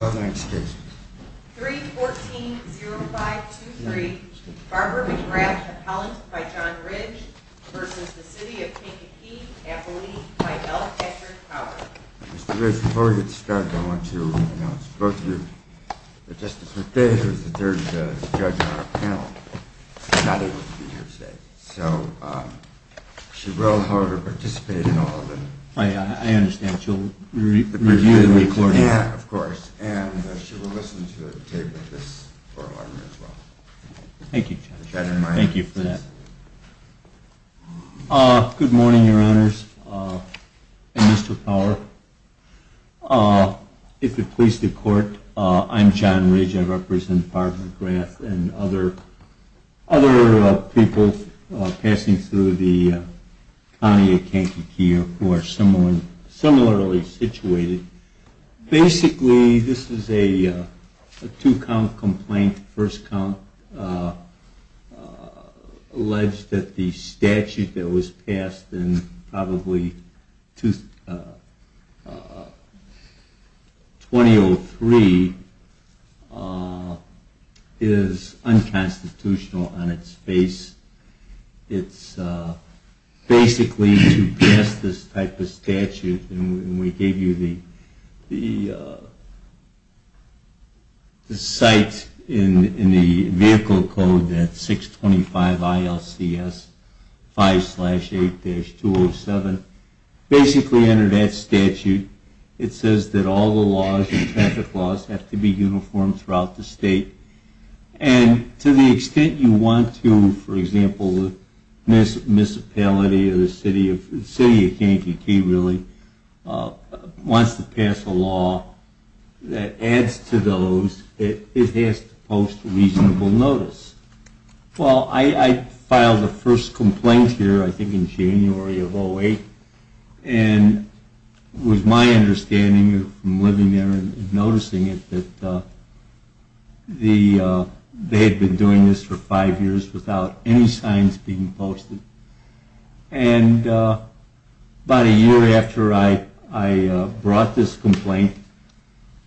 3.14.0523 Barbara McGrath, Appellant by John Ridge v. The City of Kankakee, Appellee by L. Patrick Howard Good morning, your honors, and Mr. Power. If it pleases the court, I'm John Ridge. I represent Barbara McGrath and other people passing through the county of Kankakee who are similarly situated. Basically, this is a two-count complaint, first count, alleged that the statute that was passed in probably 2003 is unconstitutional on its face. It's basically to pass this type of statute, and we gave you the site in the vehicle code that's 625 ILCS 5-8-207. Basically under that statute, it says that all the laws and traffic laws have to be uniform throughout the state. And to the extent you want to, for example, the municipality or the city of Kankakee really wants to pass a law that adds to those, it has to post reasonable notice. Well, I filed the first complaint here, I think in January of 2008, and it was my understanding from living there and noticing it that they had been doing this for five years without any signs being posted. And about a year after I brought this complaint,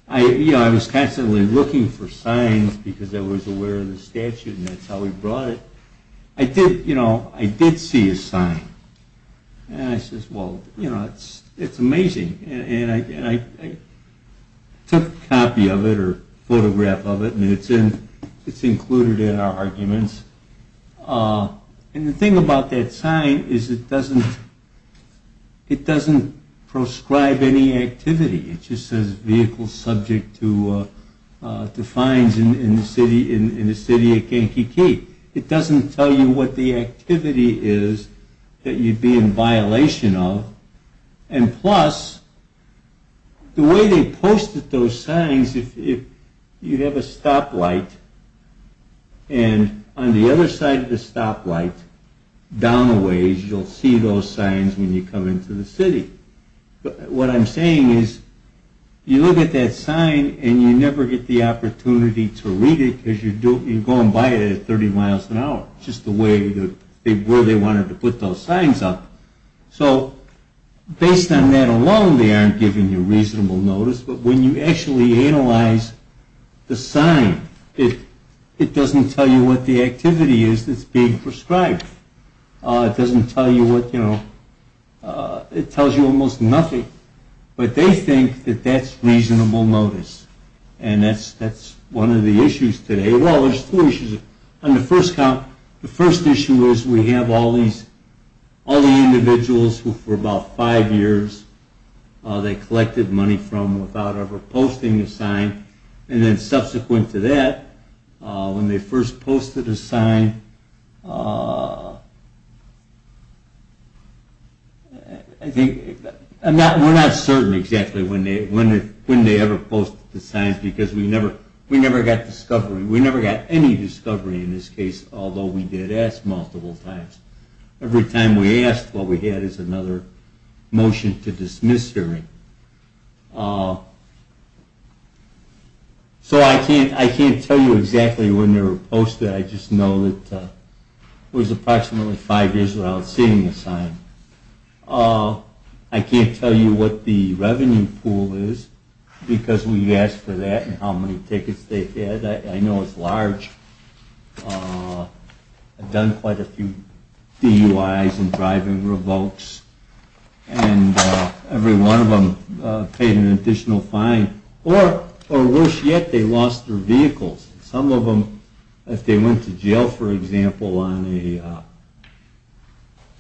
I was constantly looking for signs because I was aware of the statute and that's how we brought it. I did see a sign, and I said, well, it's amazing. And I took a copy of it or a photograph of it, and it's included in our arguments. And the thing about that sign is it doesn't prescribe any activity. It just says vehicle subject to fines in the city of Kankakee. It doesn't tell you what the activity is that you'd be in violation of. And plus, the way they posted those signs, if you have a stoplight, and on the other side of the stoplight, down a ways, you'll see those signs when you come into the city. What I'm saying is you look at that sign, and you never get the opportunity to read it because you go and buy it at 30 miles an hour. It's just the way they wanted to put those signs up. So based on that alone, they aren't giving you reasonable notice. But when you actually analyze the sign, it doesn't tell you what the activity is that's being prescribed. It doesn't tell you what, you know, it tells you almost nothing. But they think that that's reasonable notice. And that's one of the issues today. Well, there's two issues. On the first count, the first issue is we have all these, all the individuals who for about five years, they collected money from without ever posting a sign. And then subsequent to that, when they first posted a sign, I think, we're not certain exactly when they ever posted the signs because we never got discovery. We never got any discovery in this case, although we did ask multiple times. Every time we asked, what we had is another motion to dismiss hearing. So I can't tell you exactly when they were posted. I just know that it was approximately five years without seeing a sign. I can't tell you what the revenue pool is because we asked for that and how many tickets they had. I know it's large. I've done quite a few DUIs and driving revokes and every one of them paid an additional fine. Or worse yet, they lost their vehicles. Some of them, if they went to jail, for example, on a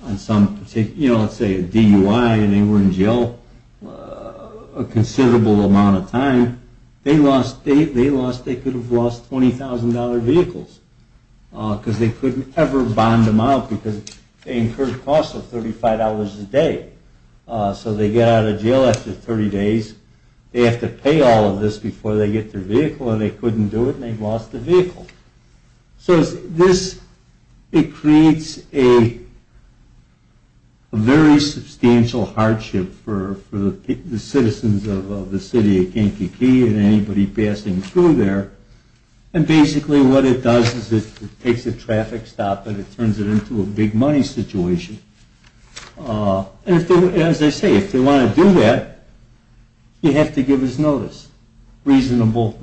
DUI and they were in jail a considerable amount of time, they could have lost $20,000 vehicles because they couldn't ever bond them out because they incurred costs of $35 a day. So they get out of jail after 30 days. They have to pay all of this before they get their vehicle and they couldn't do it and they lost their vehicle. So this creates a very substantial hardship for the citizens of the city of Kankakee and anybody passing through there. And basically what it does is it takes a traffic stop and it turns it into a big money situation. And as I say, if they want to do that, they have to give us notice. Reasonable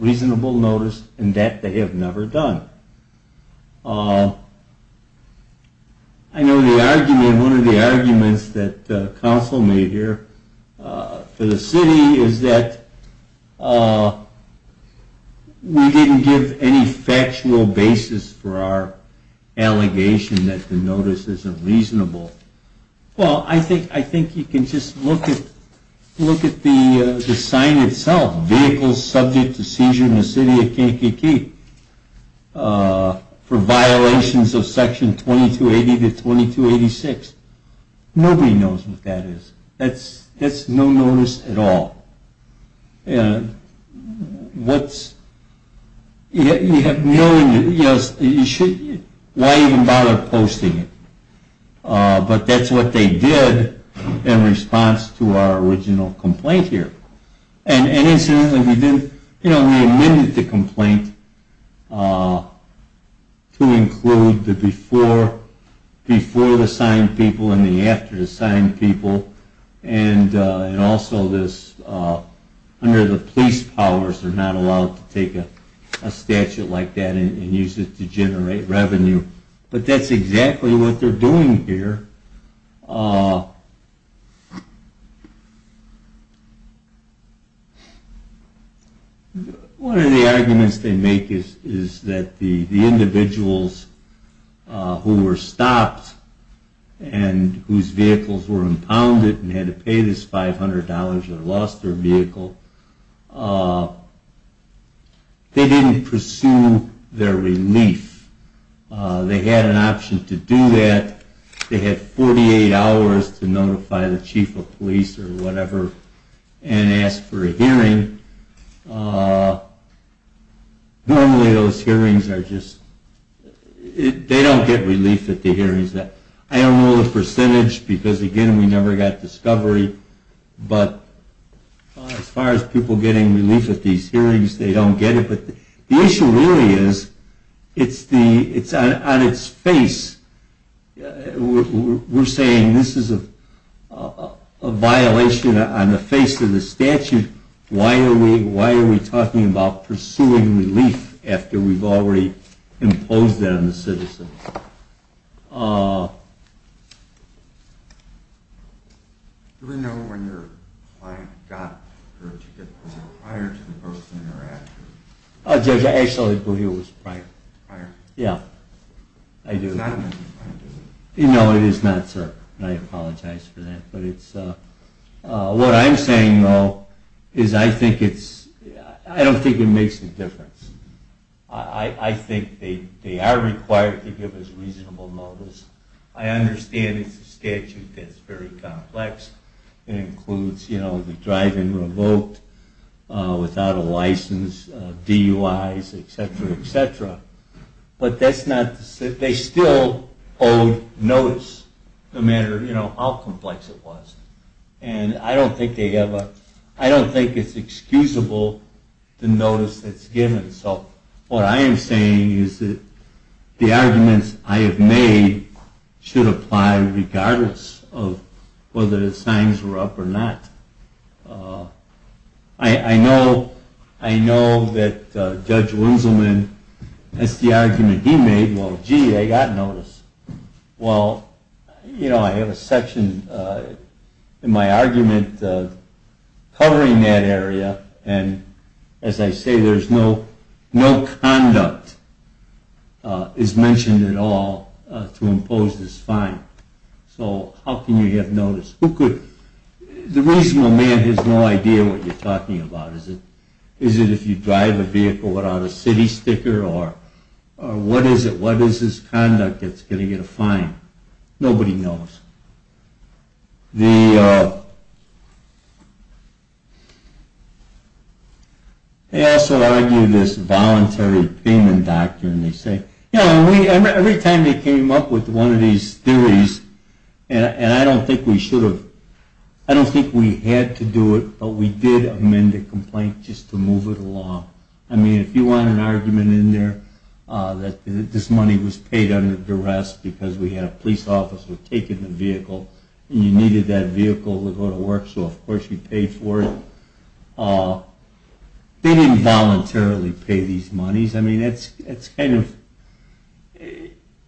notice and that they have never done. I know one of the arguments that counsel made here for the city is that we didn't give any factual basis for our allegation that the notice isn't reasonable. Well, I think you can just look at the sign itself. Vehicles subject to seizure in the city of Kankakee for violations of section 2280 to 2286. Nobody knows what that is. That's no notice at all. Why even bother posting it? But that's what they did in response to our original complaint here. And incidentally, we did, you know, we amended the complaint to include the before the signed people and the after the signed people and also under the police powers, they're not allowed to take a statute like that and use it to generate revenue. But that's exactly what they're doing here. One of the arguments they make is that the individuals who were stopped and whose vehicles were impounded and had to pay this $500 and lost their vehicle, they didn't pursue their relief. They had an option to do that. They had 48 hours to notify the chief of police or whatever and ask for a hearing. Normally those hearings are just, they don't get relief at the hearings. I don't know the percentage because, again, we never got discovery, but as far as people getting relief at these hearings, they don't get it. But the issue really is, it's on its face. We're saying this is a violation on the face of the statute. Why are we talking about pursuing relief after we've already imposed it on the citizens? Do we know when your client got her ticket? Was it prior to the posting or after? Actually, I believe it was prior. No, it is not, sir. I apologize for that. What I'm saying, though, is I don't think it makes a difference. I think they are required to give us reasonable motives. I understand it's a statute that's very complex. It includes the drive-in revoked without a license, DUIs, etc., etc. But that's not, they still owe notice no matter how complex it was. And I don't think they ever, I don't think it's excusable the notice that's given. So what I am saying is that the arguments I have made should apply regardless of whether the signs were up or not. I know that Judge Winselman, that's the argument he made, well, gee, they got notice. Well, you know, I have a section in my argument covering that area, and as I say, there's no conduct is mentioned at all to impose this fine. So how can you get notice? Who could, the reasonable man has no idea what you're talking about. Is it if you drive a vehicle without a city sticker, or what is it, what is this conduct that's going to get a fine? Nobody knows. The, they also argue this voluntary payment doctrine. They say, you know, every time they came up with one of these theories, and I don't think we should have, I don't think we had to do it, but we did amend the complaint just to move it along. I mean, if you want an argument in there that this money was paid under duress because we had a police officer taking the vehicle, and you needed that vehicle to go to work, so of course you paid for it, they didn't voluntarily pay these monies. I mean, it's kind of,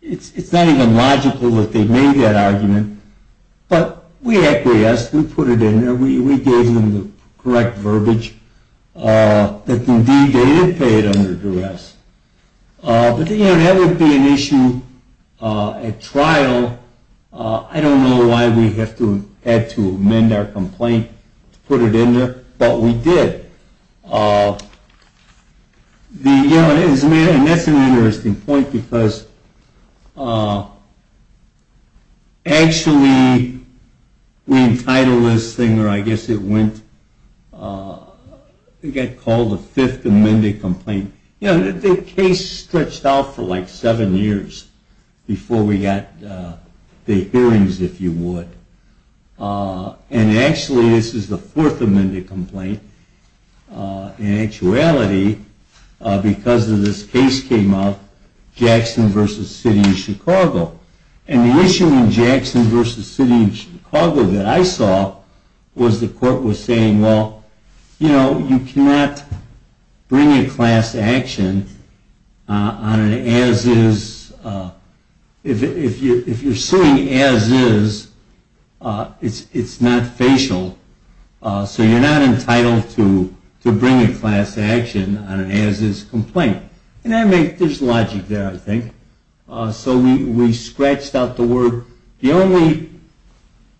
it's not even logical that they made that argument, but we acquiesced, we put it in there, we gave them the correct verbiage that indeed they did pay it under duress. But, you know, that would be an issue at trial. I don't know why we had to amend our complaint to put it in there, but we did. The, you know, and that's an interesting point, because actually we entitled this thing, or I guess it went, it got called a Fifth Amendment complaint. And, you know, the case stretched out for like seven years before we got the hearings, if you would. And actually this is the Fourth Amendment complaint, in actuality, because of this case came up, Jackson v. City of Chicago. And the issue in Jackson v. City of Chicago that I saw was the court was saying, well, you know, you cannot bring a class action on an as-is, if you're suing as-is, it's not facial, so you're not entitled to bring a class action on an as-is complaint. And there's logic there, I think. So we scratched out the word, the only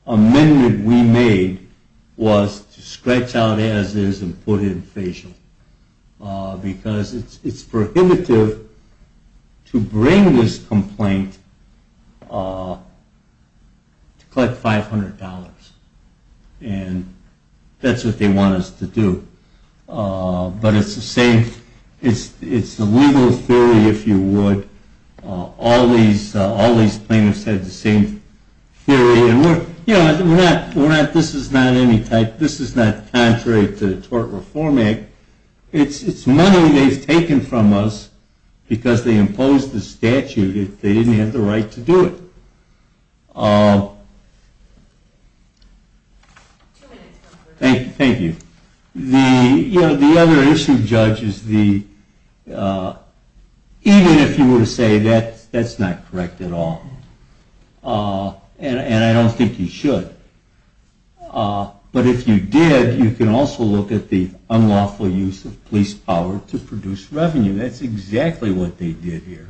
amendment we made was to scratch out as-is and put in facial, because it's prohibitive to bring this complaint to collect $500. And that's what they want us to do. But it's the same, it's the legal theory, if you would, all these plaintiffs had the same theory, and we're not, this is not any type, this is not contrary to tort reform act, it's money they've taken from us because they imposed the statute, they didn't have the right to do it. Thank you. The other issue, judges, even if you were to say that's not correct at all, and I don't think you should, but if you did, you can also look at the unlawful use of police power to produce revenue, that's exactly what they did here.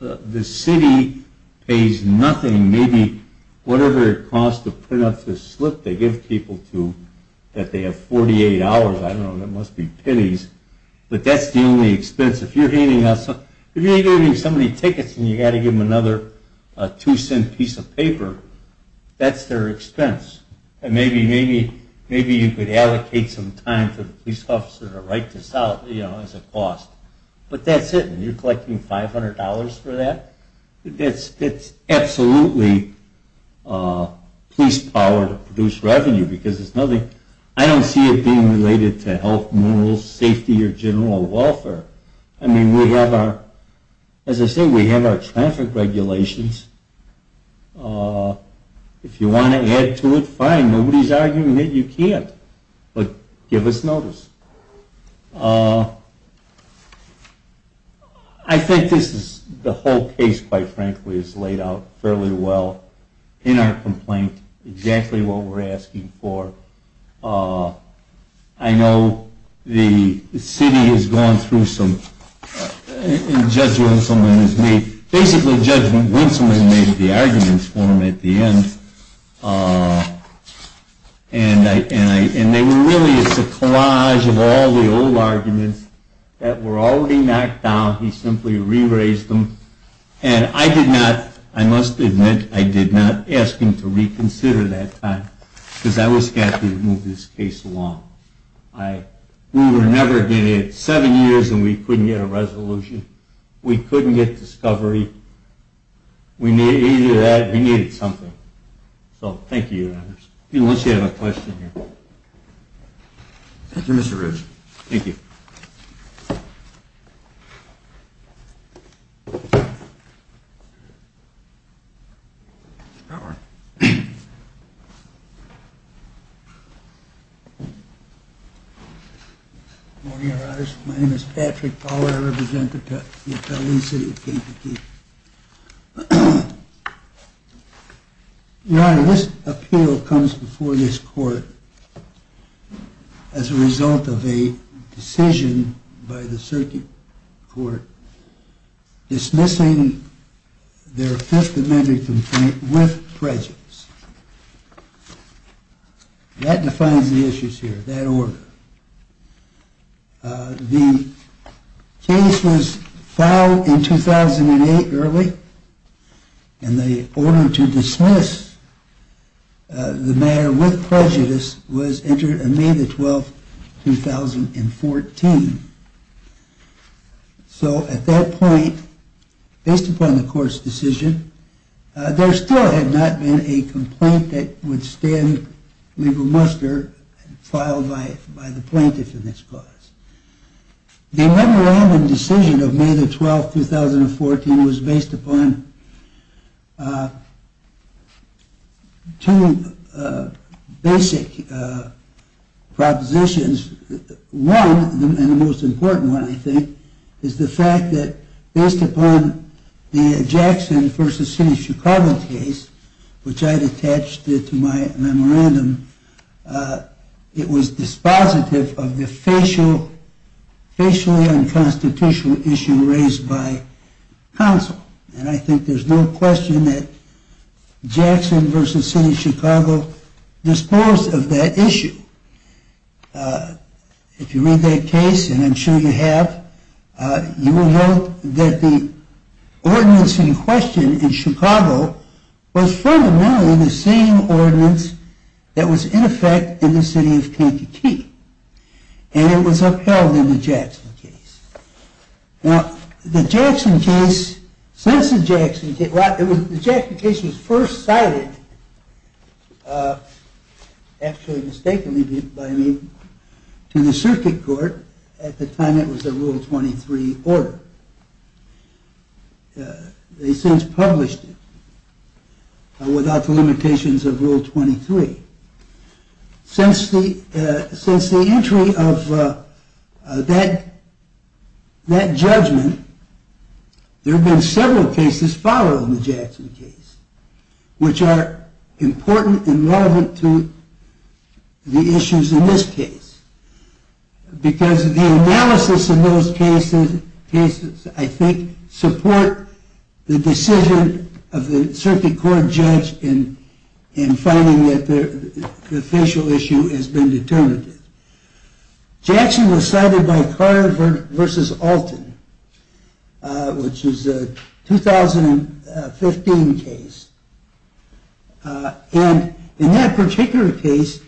The city pays nothing, maybe whatever it costs to print up this slip they give people to, that they have 48 hours, I don't know, that must be pennies, but that's the only expense. If you're handing out, if you're handing out so many tickets and you've got to give them another two-cent piece of paper, that's their expense. And maybe you could allocate some time for the police officer to write this out as a cost, but that's it, and you're collecting $500 for that? That's absolutely police power to produce revenue because there's nothing, I don't see it being related to health, safety, or general welfare. I mean, we have our, as I say, we have our traffic regulations, if you want to add to it, fine, nobody's arguing it, you can't, but give us notice. I think this is, the whole case, quite frankly, is laid out fairly well in our complaint, exactly what we're asking for. I know the city has gone through some, and Judge Winsome has made, basically Judge Winsome has made the arguments for them at the end, and they were really a collage of all the old arguments that were already knocked down, he simply re-raised them, and I did not, I must admit, I did not ask him to reconsider that time, because I was scared he would move this case along. We were never going to get seven years and we couldn't get a resolution, we couldn't get discovery, we needed that, we needed something. So, thank you, unless you have a question. Thank you, Mr. Rooge. Thank you. Good morning, Your Honor. My name is Patrick Fowler, I represent the Appellee City of Kingpin Key. Your Honor, this appeal comes before this court as a result of a decision by the Circuit Court dismissing their Fifth Amendment complaint with prejudice. That defines the issues here, that order. The case was filed in 2008 early, and the order to dismiss the matter with prejudice was entered on May 12, 2014. So, at that point, based upon the court's decision, there still had not been a complaint that would stand legal muster filed by the plaintiff in this case. The memorandum decision of May 12, 2014 was based upon two basic propositions. One, and the most important one, I think, is the fact that based upon the Jackson v. City of Chicago case, which I had attached to my memorandum, it was dispositive of the facially unconstitutional issue raised by counsel. And I think there's no question that Jackson v. City of Chicago disposed of that issue. If you read that case, and I'm sure you have, you will note that the ordinance in question in Chicago was fundamentally the same ordinance that was in effect in the City of Kingpin Key. And it was upheld in the Jackson case. Now, the Jackson case, since the Jackson case, well, the Jackson case was first cited, actually mistakenly by me, to the Circuit Court at the time it was a Rule 23 order. They since published it without the limitations of Rule 23. Since the entry of that judgment, there have been several cases following the Jackson case, which are important and relevant to the issues in this case. Because the analysis of those cases, I think, support the decision of the Circuit Court judge in finding that the facial issue has been determined. Jackson was cited by Carter v. Alton, which is a 2015 case. And in that particular case,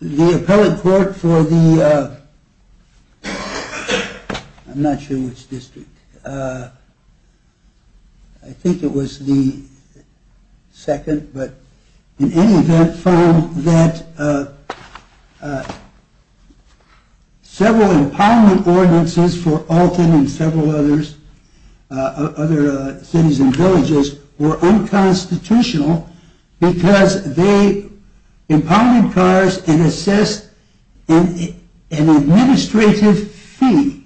the appellate court for the, I'm not sure which district, I think it was the second, but in any event, found that several impoundment ordinances for Alton and several other cities and villages were unconstitutional because they impounded cars and assessed an administrative fee.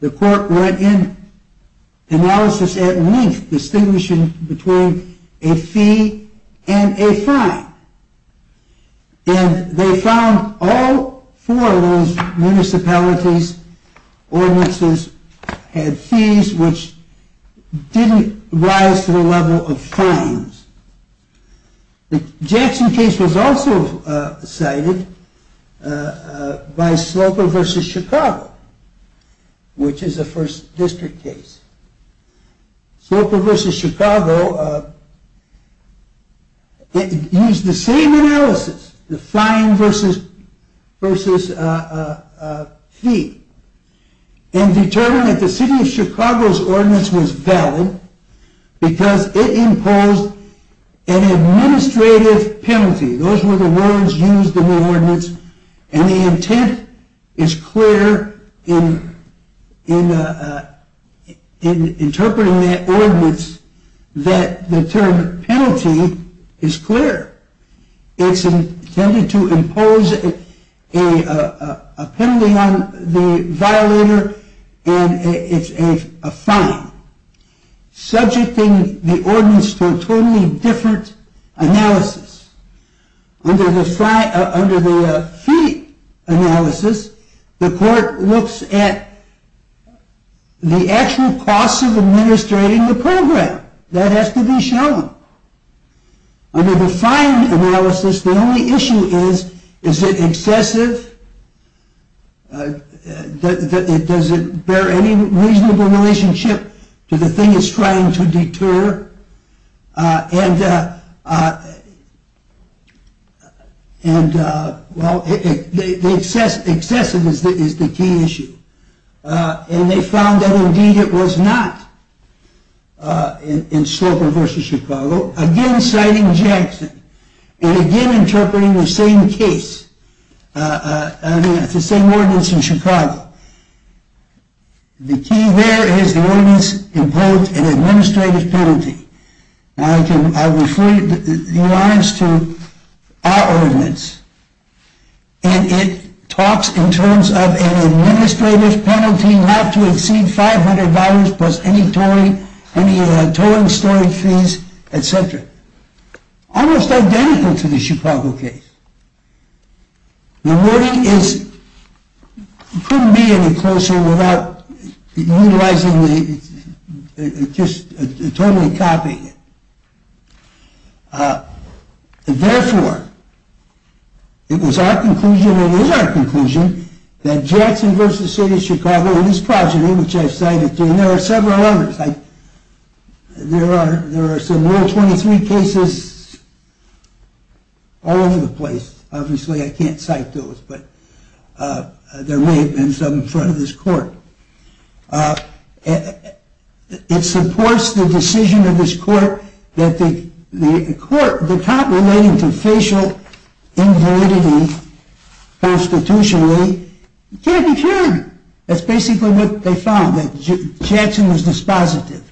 The court went in analysis at length, distinguishing between a fee and a fine. And they found all four of those municipalities' ordinances had fees which didn't rise to the level of fines. The Jackson case was also cited by Sloper v. Chicago, which is a first district case. Sloper v. Chicago used the same analysis, the fine versus fee, and determined that the city of Chicago's ordinance was valid because it imposed an administrative penalty. Those were the words used in the ordinance. And the intent is clear in interpreting that ordinance that the term penalty is clear. It's intended to impose a penalty on the violator, and it's a fine, subjecting the ordinance to a totally different analysis. Under the fee analysis, the court looks at the actual costs of administrating the program. That has to be shown. Under the fine analysis, the only issue is, is it excessive? Does it bear any reasonable relationship to the thing it's trying to deter? Excessive is the key issue. And they found that indeed it was not in Sloper v. Chicago, again citing Jackson, and again interpreting the same case, the same ordinance in Chicago. The key there is the ordinance imposed an administrative penalty. Now, I refer the alliance to our ordinance, and it talks in terms of an administrative penalty not to exceed $500 plus any towing, storage fees, etc. Almost identical to the Chicago case. The wording is, couldn't be any closer without utilizing the, just totally copying it. Therefore, it was our conclusion, and is our conclusion, that Jackson v. City of Chicago, and this progeny, which I've cited, and there are several others. There are some more 23 cases all over the place. Obviously, I can't cite those, but there may have been some in front of this court. It supports the decision of this court that the court, the cop relating to facial invalidity constitutionally can't be found. That's basically what they found, that Jackson was dispositive.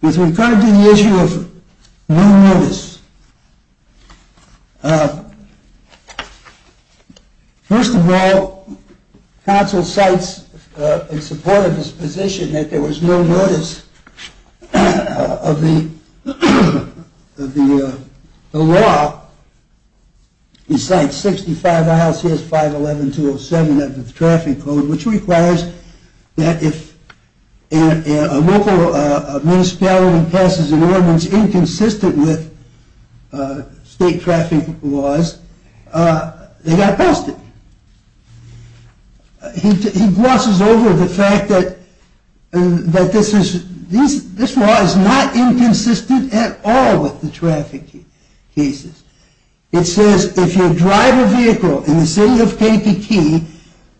With regard to the issue of no notice, first of all, counsel cites in support of his position that there was no notice of the law. He cites 65 ILCS 511-207 of the traffic code, which requires that if a local municipality passes an ordinance inconsistent with the traffic code, state traffic laws, they got busted. He glosses over the fact that this law is not inconsistent at all with the traffic cases. It says, if you drive a vehicle in the city of KPT,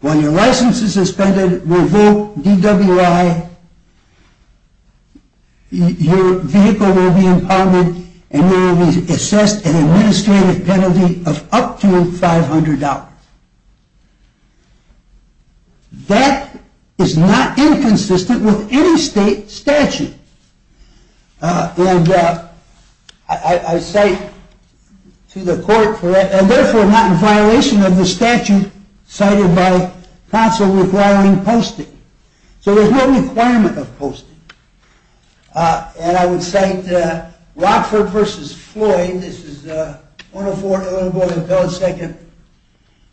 while your license is suspended, revoke DWI, your vehicle will be impounded, and you will be assessed an administrative penalty of up to $500. That is not inconsistent with any state statute. I cite to the court, and therefore not in violation of the statute, cited by counsel withdrawing posting. So there's no requirement of posting. And I would cite Rockford v. Floyd, this is 104 Illinois Impelled Second,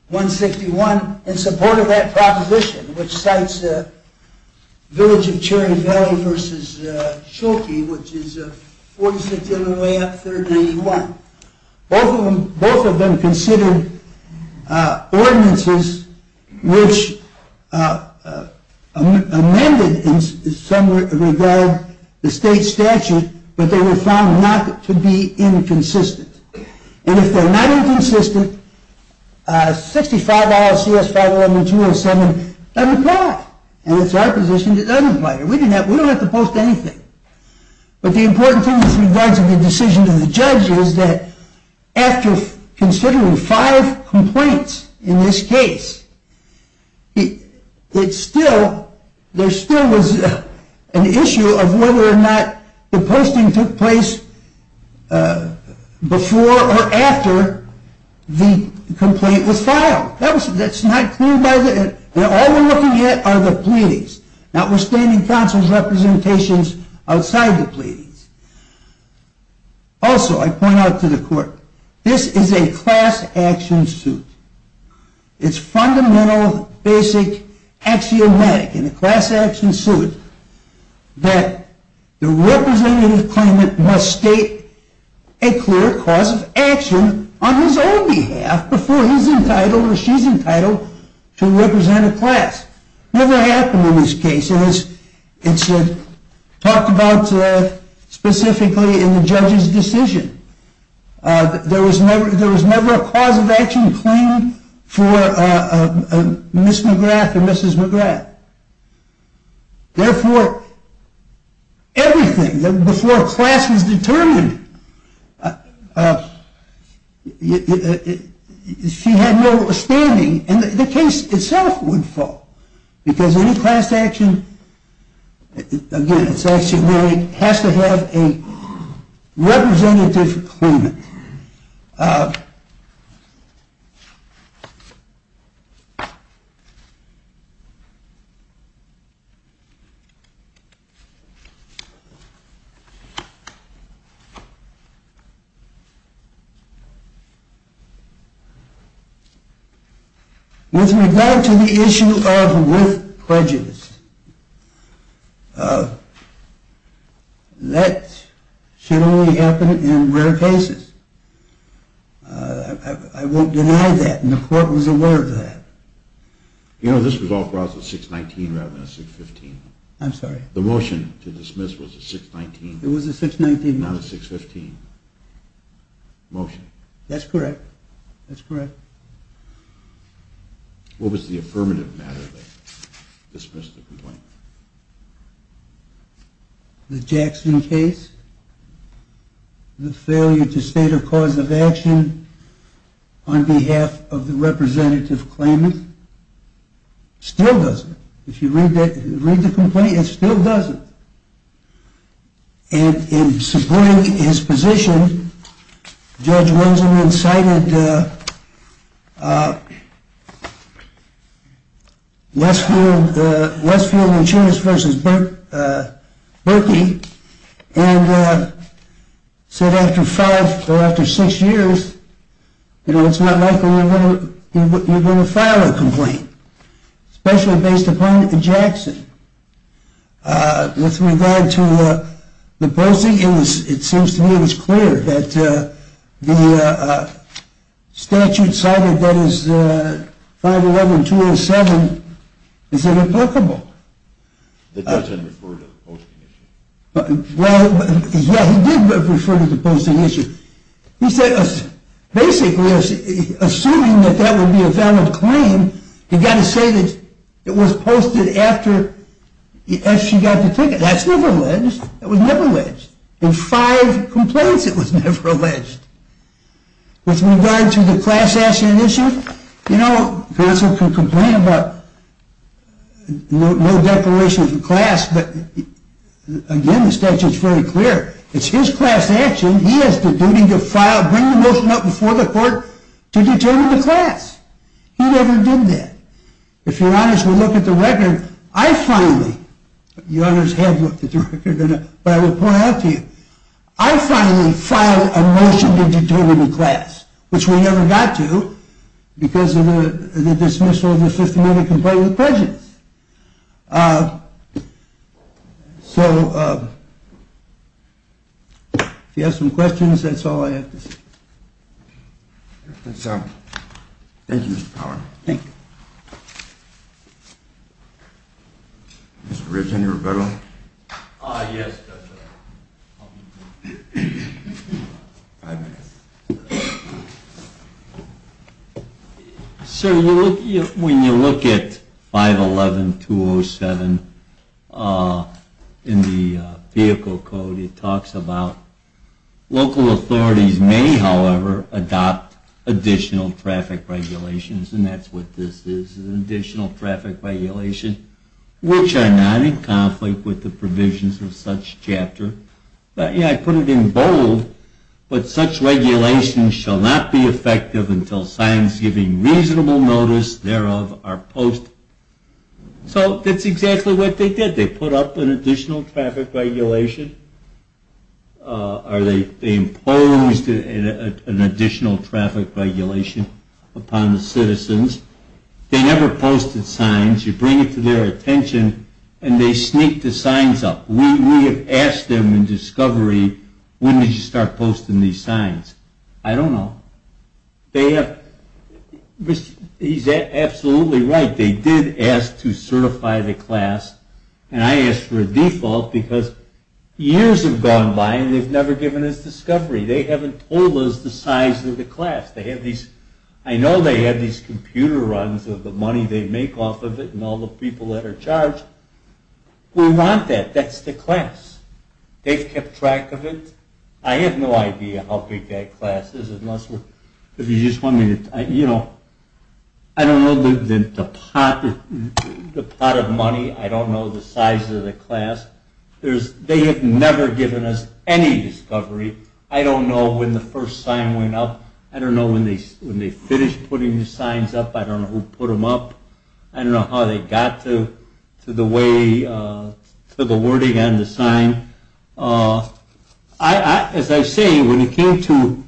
161, in support of that proposition, which cites Village of Cherry Valley v. Schulke, which is 46 on the way up, 391. Both of them conceded ordinances which amended in some regard the state statute, but they were found not to be inconsistent. And if they're not inconsistent, $65 CS 511-207 doesn't apply. And it's our position it doesn't apply. We don't have to post anything. But the important thing in regards to the decision of the judge is that after considering five complaints in this case, there still was an issue of whether or not the posting took place before or after the complaint was filed. And all we're looking at are the pleadings, notwithstanding counsel's representations outside the pleadings. Also, I point out to the court, this is a class action suit. It's fundamental, basic, axiomatic in a class action suit that the representative claimant must state a clear cause of action on his own behalf before he's entitled or she's entitled to represent a class. Never happened in this case. It's talked about specifically in the judge's decision. There was never a cause of action claimed for Ms. McGrath or Mrs. McGrath. Therefore, everything before class was determined, she had no standing, and the case itself would fall because any class action has to have a representative claimant. With regard to the issue of with pledges, that should only happen in rare cases. I won't deny that, and the court was aware of that. You know, this was all brought to a 619 rather than a 615. I'm sorry? The motion to dismiss was a 619. It was a 619. Not a 615 motion. That's correct. That's correct. What was the affirmative matter that dismissed the complaint? The Jackson case? The failure to state a cause of action on behalf of the representative claimant? Still doesn't. If you read the complaint, it still doesn't. And in supporting his position, Judge Lonson incited Westfield and Chivas v. Berkey and said after five or after six years, it's not likely you're going to file a complaint, especially based upon the Jackson. With regard to the posting, it seems to me it was clear that the statute cited, that is 511-207, is irrevocable. It doesn't refer to the posting issue. Well, yeah, he did refer to the posting issue. He said basically, assuming that that would be a valid claim, you've got to say that it was posted after she got the ticket. That's never alleged. It was never alleged. In five complaints, it was never alleged. With regard to the class action issue, you know, counsel can complain about no declaration of the class, but again, the statute's very clear. It's his class action. He has the duty to bring the motion up before the court to determine the class. He never did that. If your honors would look at the record, I finally, your honors have looked at the record, but I will point out to you, I finally filed a motion to determine the class, which we never got to because of the dismissal of the 50-minute complaint with prejudice. So if you have some questions, that's all I have to say. That's all. Thank you, Mr. Power. Thank you. Mr. Rich, any rebuttals? Yes. Five minutes. Sir, when you look at 511-207 in the vehicle code, it talks about local authorities may, however, adopt additional traffic regulations, and that's what this is, an additional traffic regulation, which are not in conflict with the provisions of such chapter. Yeah, I put it in bold, but such regulations shall not be effective until signs giving reasonable notice thereof are posted. So that's exactly what they did. Did they put up an additional traffic regulation? Are they imposed an additional traffic regulation upon the citizens? They never posted signs. You bring it to their attention, and they sneak the signs up. We have asked them in discovery, when did you start posting these signs? I don't know. He's absolutely right. They did ask to certify the class, and I asked for a default because years have gone by, and they've never given us discovery. They haven't told us the size of the class. I know they have these computer runs of the money they make off of it and all the people that are charged. We want that. That's the class. They've kept track of it. I have no idea how big that class is. I don't know the pot of money. I don't know the size of the class. They have never given us any discovery. I don't know when the first sign went up. I don't know when they finished putting the signs up. I don't know who put them up. I don't know how they got to the wording on the sign. As I say, when it came to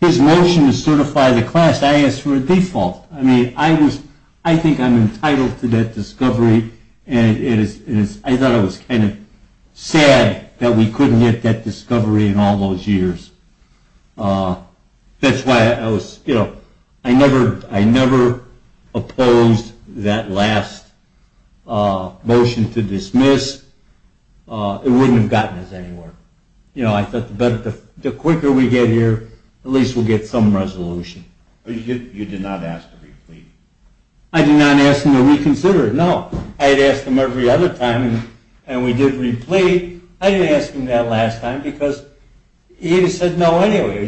his motion to certify the class, I asked for a default. I think I'm entitled to that discovery, and I thought it was kind of sad that we couldn't get that discovery in all those years. That's why I never opposed that last motion to dismiss. It wouldn't have gotten us anywhere. I thought the quicker we get here, at least we'll get some resolution. You did not ask to re-plead? I did not ask them to reconsider it, no. I had asked them every other time, and we did re-plead. I didn't ask them that last time because he said no anyway.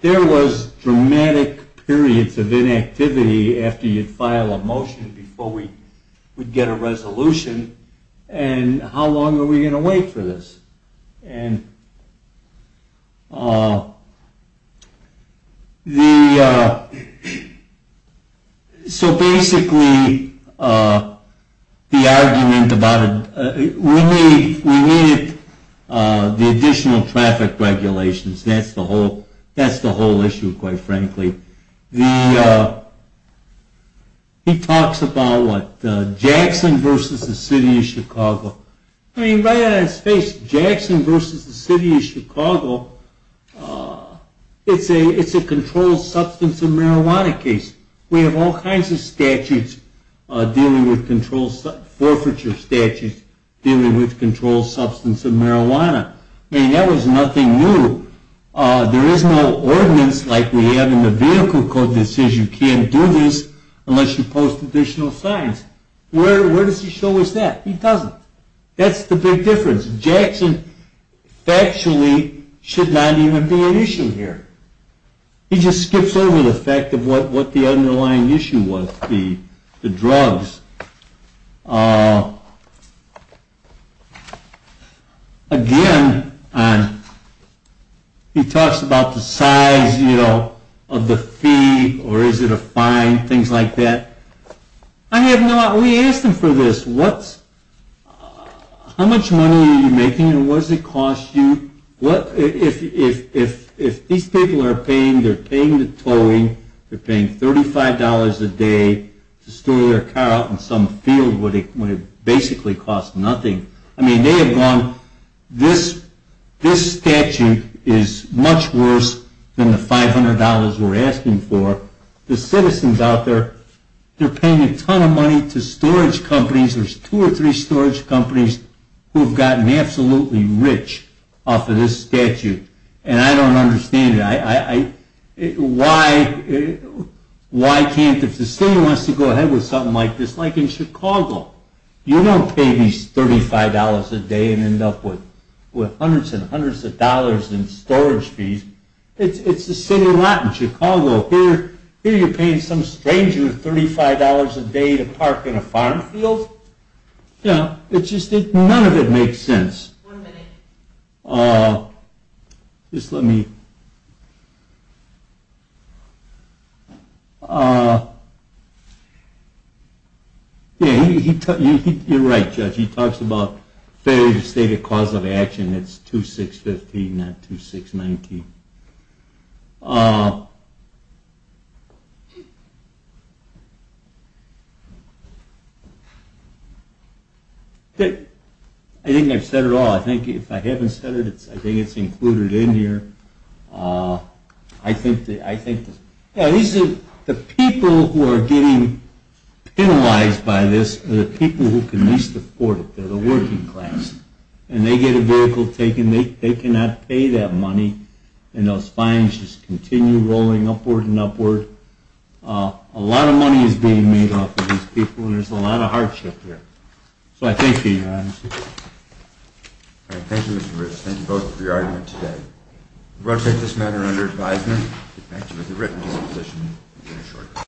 There was dramatic periods of inactivity after you'd file a motion before we would get a resolution, and how long are we going to wait for this? Basically, the argument about it, we needed the additional traffic regulations. That's the whole issue, quite frankly. He talks about Jackson v. The City of Chicago. Right out of his face, Jackson v. The City of Chicago, it's a controlled substance and marijuana case. We have all kinds of statutes dealing with forfeiture statutes dealing with controlled substance and marijuana. That was nothing new. There is no ordinance like we have in the vehicle code that says you can't do this unless you post additional signs. Where does he show us that? He doesn't. That's the big difference. Jackson factually should not even be an issue here. He just skips over the fact of what the underlying issue was, the drugs. Again, he talks about the size of the fee, or is it a fine, things like that. We asked him for this. How much money are you making, and what does it cost you? If these people are paying, they're paying the towing, they're paying $35 a day to store their car out in some field when it basically costs nothing. I mean, they have gone, this statute is much worse than the $500 we're asking for. The citizens out there, they're paying a ton of money to storage companies. There's two or three storage companies who have gotten absolutely rich off of this statute, and I don't understand it. Why can't, if the city wants to go ahead with something like this, like in Chicago, you don't pay these $35 a day and end up with hundreds and hundreds of dollars in storage fees. It's the city lot in Chicago. Here you're paying some stranger $35 a day to park in a farm field. None of it makes sense. One minute. Just let me... You're right, Judge. He talks about failure to state a cause of action. It's 2615, not 2619. I think I've said it all. I think if I haven't said it, I think it's included in here. I think the people who are getting penalized by this are the people who can least afford it. They're the working class. And they get a vehicle taken. They cannot pay that money, and those fines just continue rolling upward and upward. A lot of money is being made off of these people, and there's a lot of hardship here. So I thank you, Your Honor. Thank you, Mr. Ritz. Thank you both for your argument today. We'll take this matter under advisement. Thank you.